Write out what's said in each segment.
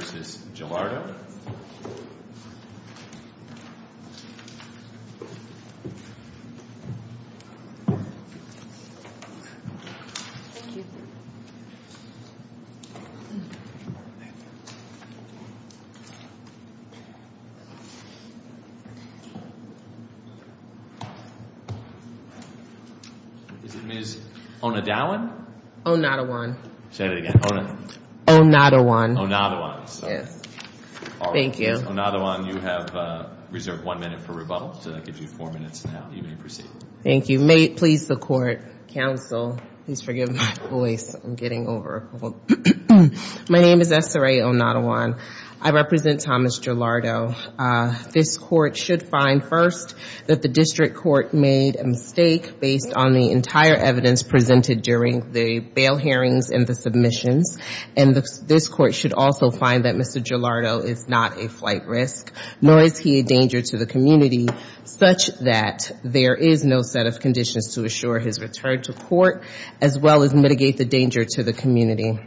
Is it Ms. Onadawan? Onadawan. Say it again. Onadawan. Onadawan. Yes. Thank you. Ms. Onadawan, you have reserved one minute for rebuttal, so that gives you four minutes now. You may proceed. Thank you. May it please the Court, counsel, please forgive my voice. I'm getting over a cold. My name is S.R.A. Onadawan. I represent Thomas Gelardo. This Court should find first that the district court made a mistake based on the entire evidence presented during the bail hearings and the submissions, and this Court should also find that Mr. Gelardo is not a flight risk, nor is he a danger to the community, such that there is no set of conditions to assure his return to court, as well as mitigate the danger to the community.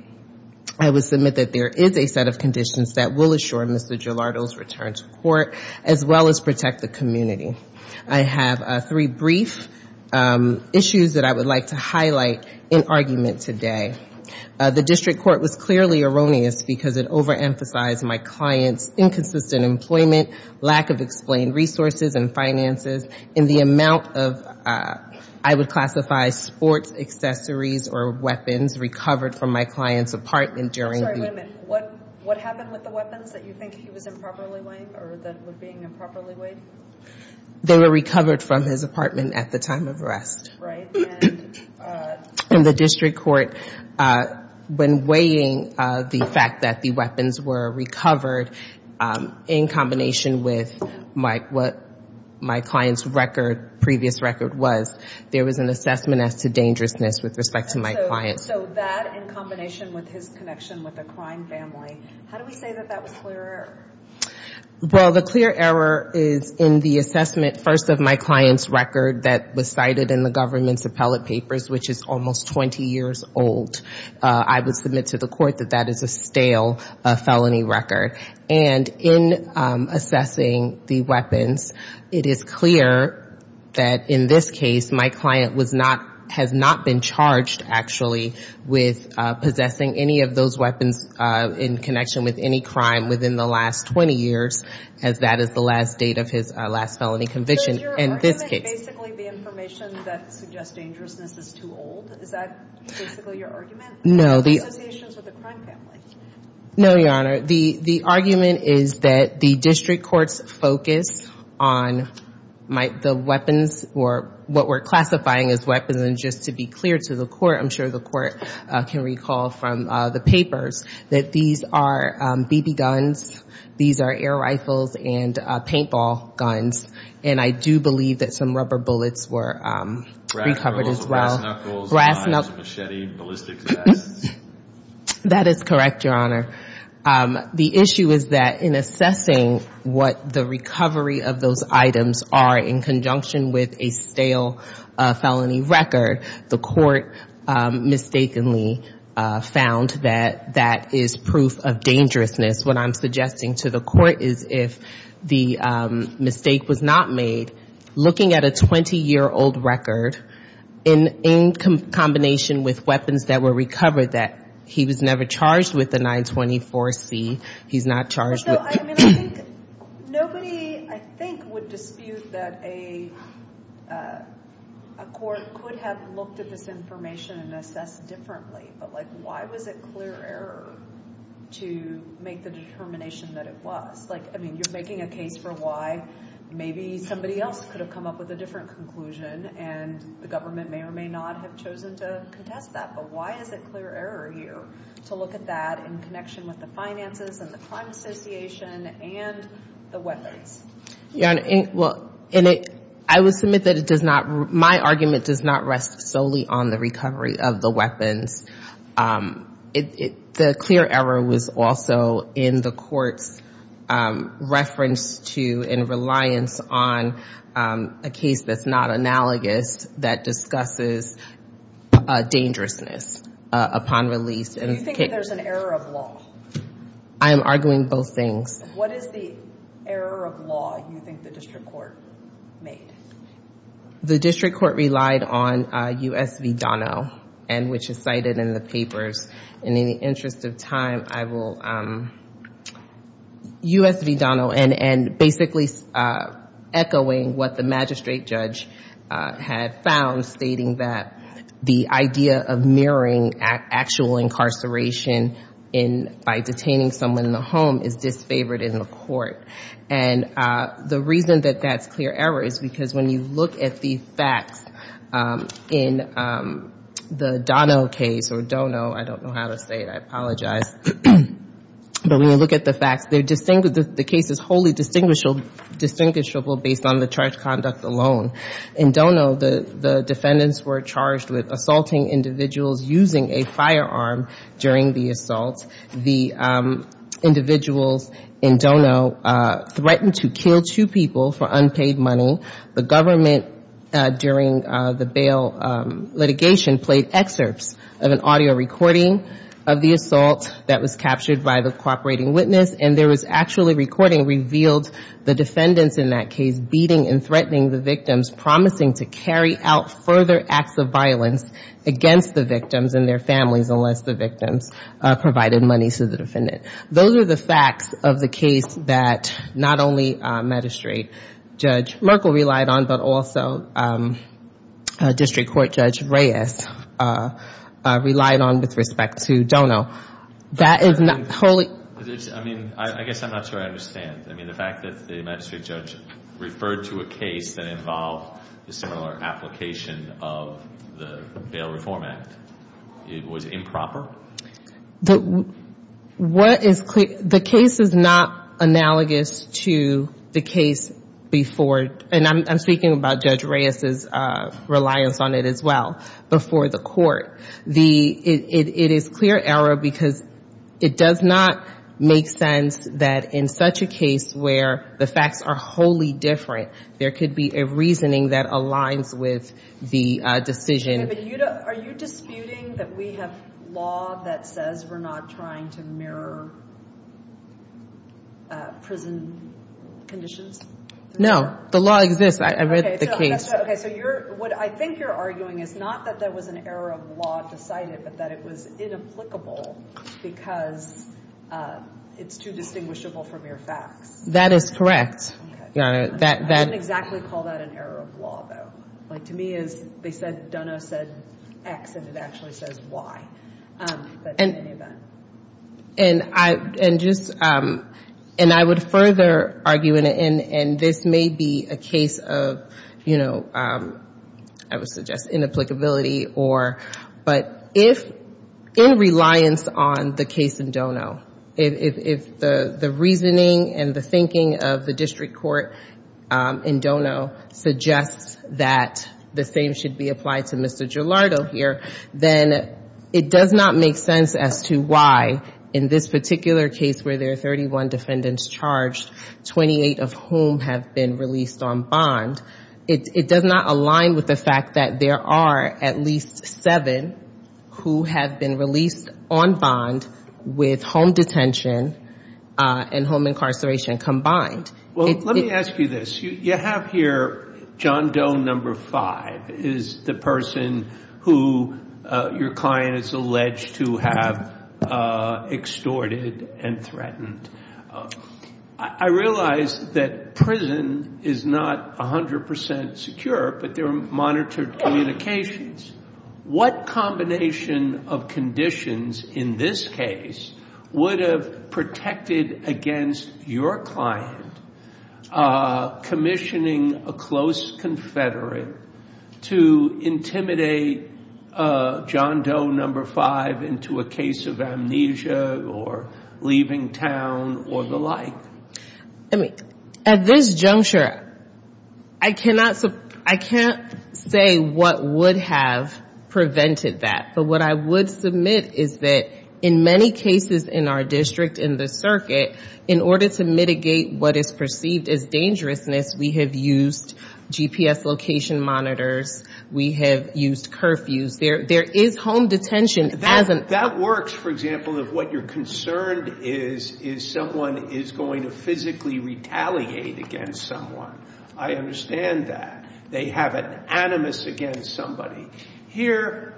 I would submit that there is a set of conditions that will assure Mr. Gelardo's return to court, as well as protect the community. I have three brief issues that I would like to highlight in argument today. The district court was clearly erroneous because it over-emphasized my client's inconsistent employment, lack of explained resources and finances, and the amount of, I would classify, sports accessories or weapons recovered from my client's apartment during the — Wait a minute. What happened with the weapons that you think he was improperly weighing, or that were being improperly weighed? They were recovered from his apartment at the time of arrest. Right. And the district court, when weighing the fact that the weapons were recovered, in combination with what my client's record, previous record, was, there was an assessment as to dangerousness with respect to my client. So that, in combination with his connection with a crime family, how do we say that that was clear error? Well, the clear error is in the assessment, first, of my client's record that was cited in the government's appellate papers, which is almost 20 years old. I would submit to the court that that is a stale felony record. And in assessing the weapons, it is clear that, in this case, my client was not — has not been associated with possessing any of those weapons in connection with any crime within the last 20 years, as that is the last date of his last felony conviction. In this case — So is your argument basically the information that suggests dangerousness is too old? Is that basically your argument? No, the — Or the associations with a crime family? No, Your Honor. The argument is that the district court's focus on the weapons, or what we're classifying as weapons, and just to be clear to the court, I'm sure the court can recall from the papers, that these are BB guns, these are air rifles, and paintball guns. And I do believe that some rubber bullets were recovered as well. Brass knuckles, knives, machete, ballistic vests. That is correct, Your Honor. The issue is that, in assessing what the recovery of those items are in conjunction with a stale felony record, the court mistakenly found that that is proof of dangerousness. What I'm suggesting to the court is if the mistake was not made, looking at a 20-year-old record, in combination with weapons that were recovered, that he was never charged with the 924C. He's not charged with — Nobody, I think, would dispute that a court could have looked at this information and assessed differently. But, like, why was it clear error to make the determination that it was? Like, I mean, you're making a case for why. Maybe somebody else could have come up with a different conclusion, and the government may or may not have chosen to contest that. But why is it clear error here to look at that in connection with the finances and the gun association and the weapons? Your Honor, well, I would submit that it does not — my argument does not rest solely on the recovery of the weapons. The clear error was also in the court's reference to and reliance on a case that's not analogous that discusses dangerousness upon release. Do you think that there's an error of law? I am arguing both things. What is the error of law you think the district court made? The district court relied on U.S. v. Dono, which is cited in the papers. And in the interest of time, I will — U.S. v. Dono, and basically echoing what the magistrate judge had found, stating that the idea of mirroring actual incarceration in — by detaining someone in the home is disfavored in the court. And the reason that that's clear error is because when you look at the facts in the Dono case — or Dono, I don't know how to say it, I apologize — but when you look at the facts, they're — the case is wholly distinguishable based on the charge conduct alone. In Dono, the defendants were charged with assaulting individuals using a firearm during the assault. The individuals in Dono threatened to kill two people for unpaid money. The government, during the bail litigation, played excerpts of an audio recording of the assault that was captured by the cooperating witness. And there was actually — recording revealed the defendants in that case beating and threatening the victims, promising to carry out further acts of violence against the victims and their families unless the victims provided money to the defendant. Those are the facts of the case that not only Magistrate Judge Merkel relied on, but also District Court Judge Reyes relied on with respect to Dono. That is not wholly — I mean, I guess I'm not sure I understand. I mean, the fact that the magistrate judge referred to a case that involved a similar application of the Bail Reform Act, it was improper? What is — the case is not analogous to the case before — and I'm speaking about Judge Reyes' reliance on it as well — before the court. It is clear error because it does not make sense that in such a case where the facts are wholly different, there could be a reasoning that aligns with the decision. Okay, but are you disputing that we have law that says we're not trying to mirror prison conditions? No. The law exists. I read the case. Okay, so you're — what I think you're arguing is not that there was an error of law decided, but that it was inapplicable because it's too distinguishable from your facts. That is correct. Okay. I wouldn't exactly call that an error of law, though. Like, to me, as they said, Dono said X, and it actually says Y, but in any event. And I — and just — and I would further argue, and this may be a case of, you know, I would suggest inapplicability or — but if, in reliance on the case in Dono, if the reasoning and the thinking of the district court in Dono suggests that the same should be applied to Mr. Gilardo here, then it does not make sense as to why, in this particular case where there are 31 defendants charged, 28 of whom have been released on bond, it does not align with the fact that there are at least seven who have been released on bond with home detention and home incarceration combined. Well, let me ask you this. You have here John Doe No. 5 is the person who your client is alleged to have extorted and threatened. I realize that prison is not 100 percent secure, but there are monitored communications. What combination of conditions in this case would have protected against your client commissioning a close confederate to intimidate John Doe No. 5 into a case of amnesia or leaving town or the like? I mean, at this juncture, I cannot say what would have prevented that, but what I would submit is that in many cases in our district, in the circuit, in order to mitigate what is perceived as dangerousness, we have used GPS location monitors. We have used curfews. There is home detention as an — to physically retaliate against someone. I understand that. They have an animus against somebody. Here,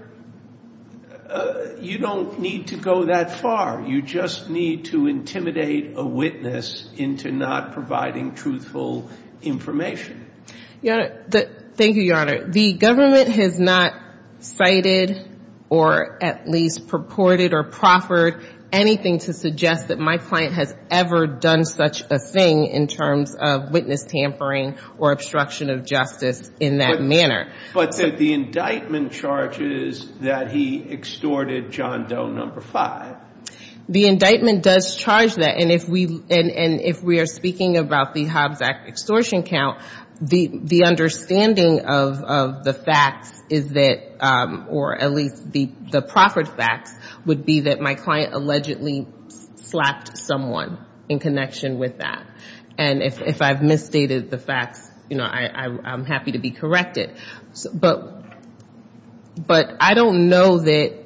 you don't need to go that far. You just need to intimidate a witness into not providing truthful information. Your Honor, thank you, Your Honor. The government has not cited or at least purported or proffered anything to suggest that my client has ever done such a thing in terms of witness tampering or obstruction of justice in that manner. But the indictment charges that he extorted John Doe No. 5. The indictment does charge that, and if we are speaking about the Hobbs Act extortion count, the understanding of the facts is that — or at least the proffered facts would be that my client allegedly slapped someone in connection with that. And if I've misstated the facts, you know, I'm happy to be corrected. But I don't know that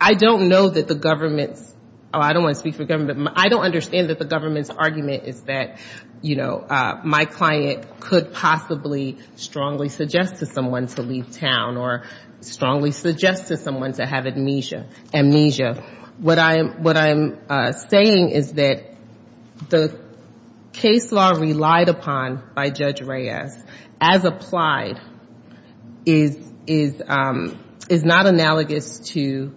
the government's — oh, I don't want to speak for government. I don't understand that the government's argument is that, you know, my client could possibly strongly suggest to someone to leave town or strongly suggest to someone to have amnesia. What I'm saying is that the case law relied upon by Judge Reyes, as applied, is not analogous to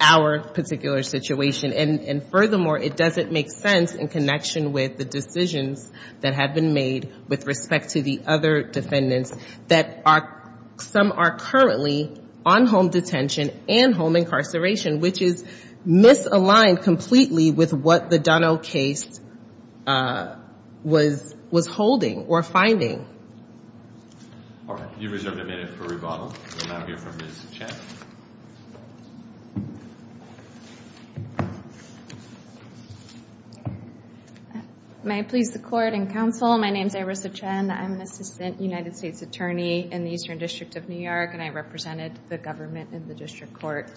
our particular situation. And furthermore, it doesn't make sense in connection with the decisions that have been made with respect to the other defendants that are — some are currently on home detention and home incarceration, which is misaligned completely with what the Dunno case was holding or finding. All right. You're reserved a minute for rebuttal. We'll now hear from Ms. Chet. May I please the court and counsel? Hello. My name's Arisa Chen. I'm an assistant United States attorney in the Eastern District of New York, and I represented the government in the district court.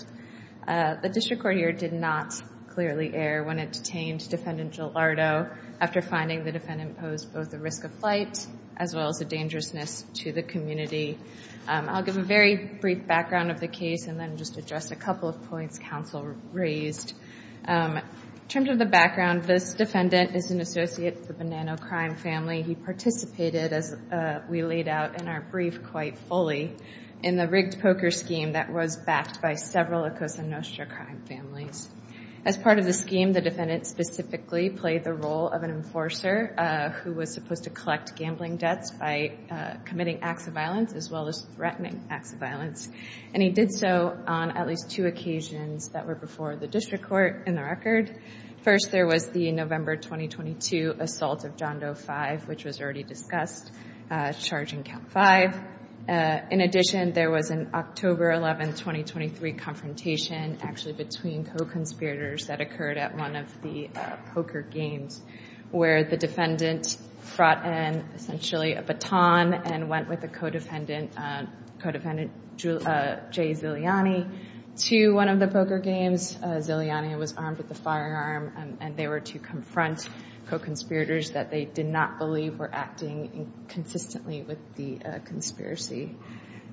The district court here did not clearly err when it detained Defendant Gilardo after finding the defendant posed both a risk of flight as well as a dangerousness to the community. I'll give a very brief background of the case and then just address a couple of points counsel raised. In terms of the background, this defendant is an associate of the Bonanno crime family. He participated, as we laid out in our brief quite fully, in the rigged poker scheme that was backed by several Acosta-Nostra crime families. As part of the scheme, the defendant specifically played the role of an enforcer who was supposed to collect gambling debts by committing acts of violence as well as threatening acts of violence. And he did so on at least two occasions that were before the district court in the record. First there was the November 2022 assault of John Doe 5, which was already discussed, charging count 5. In addition, there was an October 11, 2023 confrontation actually between co-conspirators that occurred at one of the poker games where the defendant brought in essentially a baton and went with the co-defendant, J. Ziliani, to one of the poker games. Ziliani was armed with a firearm, and they were to confront co-conspirators that they did not believe were acting consistently with the conspiracy.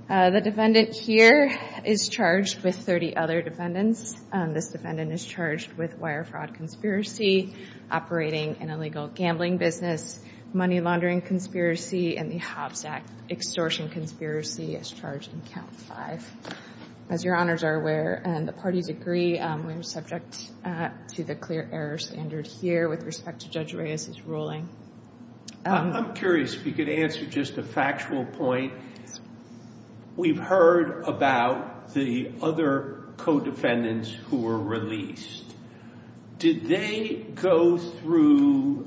The defendant here is charged with 30 other defendants. This defendant is charged with wire fraud conspiracy, operating an illegal gambling business, money laundering conspiracy, and the Hobbs Act extortion conspiracy as charged in count 5. As your honors are aware, and the parties agree, we are subject to the clear error standard here with respect to Judge Reyes's ruling. I'm curious if you could answer just a factual point. We've heard about the other co-defendants who were released. Did they go through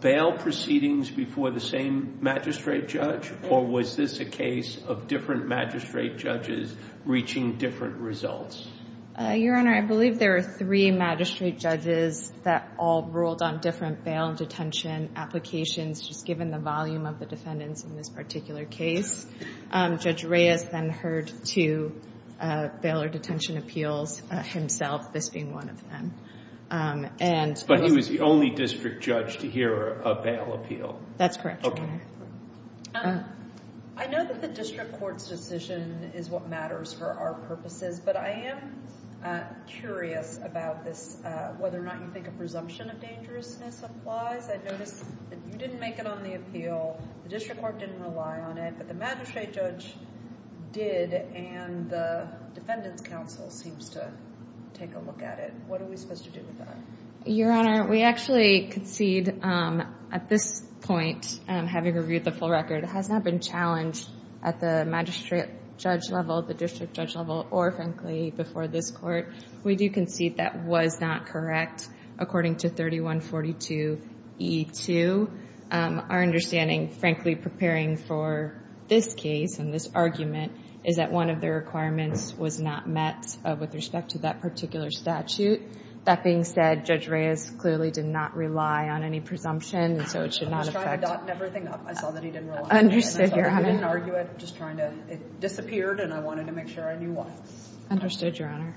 bail proceedings before the same magistrate judge, or was this a case of different magistrate judges reaching different results? Your honor, I believe there were three magistrate judges that all ruled on different bail and detention applications, just given the volume of the defendants in this particular case. Judge Reyes then heard two bail or detention appeals himself, this being one of them. But he was the only district judge to hear a bail appeal? That's correct, your honor. I know that the district court's decision is what matters for our purposes, but I am curious about this, whether or not you think a presumption of dangerousness applies. I noticed that you didn't make it on the appeal, the district court didn't rely on it, but the magistrate judge did, and the defendants' counsel seems to take a look at it. What are we supposed to do with that? Your honor, we actually concede at this point, having reviewed the full record, it has not been challenged at the magistrate judge level, the district judge level, or frankly before this court. We do concede that was not correct according to 3142E2. Our understanding, frankly, preparing for this case and this argument, is that one of the requirements was not met with respect to that particular statute. That being said, Judge Reyes clearly did not rely on any presumption, so it should not affect. I was trying to dot everything up. I saw that he didn't rely on it, and I saw that he didn't argue it, just trying to, it disappeared, and I wanted to make sure I knew why. Understood, your honor.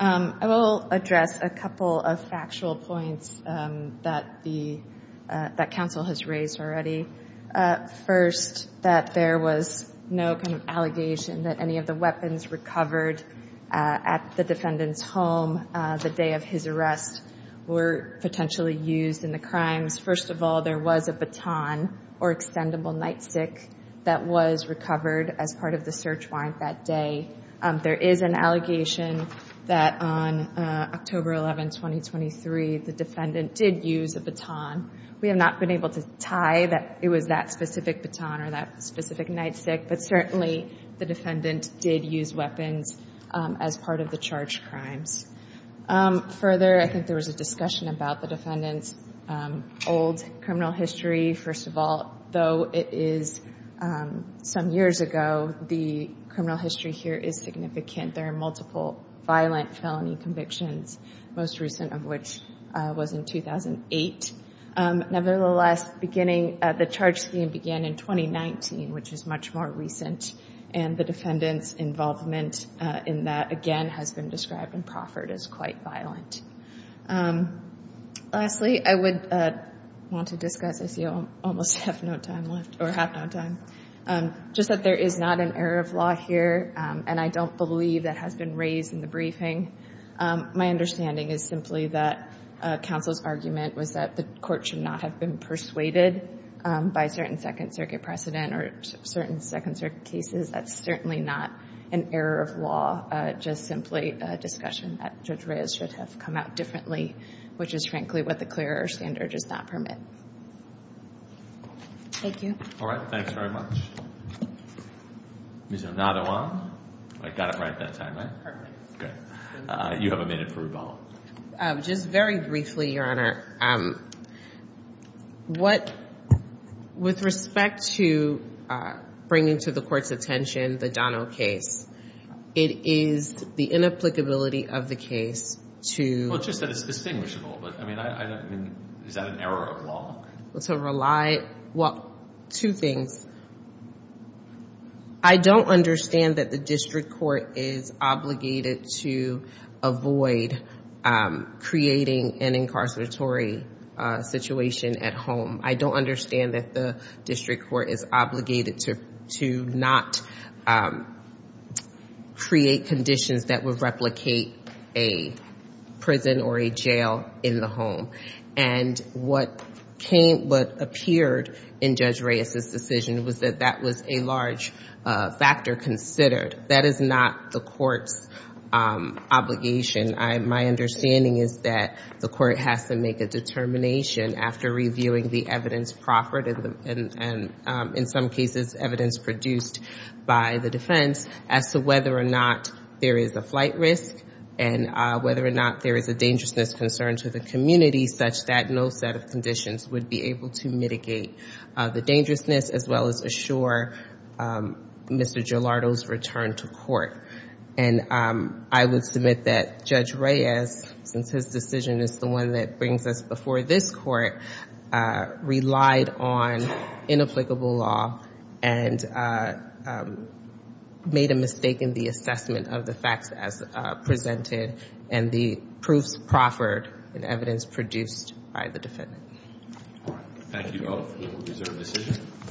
I will address a couple of factual points that counsel has raised already. First, that there was no kind of allegation that any of the weapons recovered at the defendant's home the day of his arrest were potentially used in the crimes. First of all, there was a baton or extendable nightstick that was recovered as part of the search warrant that day. There is an allegation that on October 11, 2023, the defendant did use a baton. We have not been able to tie that it was that specific baton or that specific nightstick, but certainly the defendant did use weapons as part of the charged crimes. Further, I think there was a discussion about the defendant's old criminal history. First of all, though it is some years ago, the criminal history here is significant. There are multiple violent felony convictions, most recent of which was in 2008. Nevertheless, the charge scheme began in 2019, which is much more recent, and the defendant's involvement in that, again, has been described and proffered as quite violent. Lastly, I would want to discuss, I see I almost have no time left, or have no time. Just that there is not an error of law here, and I don't believe that has been raised in the briefing. My understanding is simply that counsel's argument was that the court should not have been persuaded by certain Second Circuit precedent or certain Second Circuit cases. That's certainly not an error of law, just simply a discussion that Judge Reyes should have come out differently, which is frankly what the clearer standard does not permit. Thank you. All right, thanks very much. Ms. Anatoa? I got it right that time, right? Perfect. Good. You have a minute for rebuttal. Just very briefly, Your Honor. With respect to bringing to the court's attention the Dono case, it is the inapplicability of the case to... Well, it's just that it's distinguishable, but I mean, is that an error of law? To rely... Well, two things. I don't understand that the district court is obligated to avoid creating an incarceratory situation at home. I don't understand that the district court is obligated to not create conditions that would replicate a prison or a jail in the home. And what appeared in Judge Reyes's decision was that that was a large factor considered. That is not the court's obligation. My understanding is that the court has to make a determination after reviewing the evidence proffered and, in some cases, evidence produced by the defense as to whether or not there is a flight risk and whether or not there is a dangerousness concern to the community such that no set of conditions would be able to mitigate the dangerousness as well as assure Mr. Gelardo's return to court. And I would submit that Judge Reyes, since his decision is the one that brings us before this court, relied on inapplicable law and made a mistake in the assessment of the facts as presented and the proofs proffered and evidence produced by the defendant. All right. Thank you both for your reserved decisions.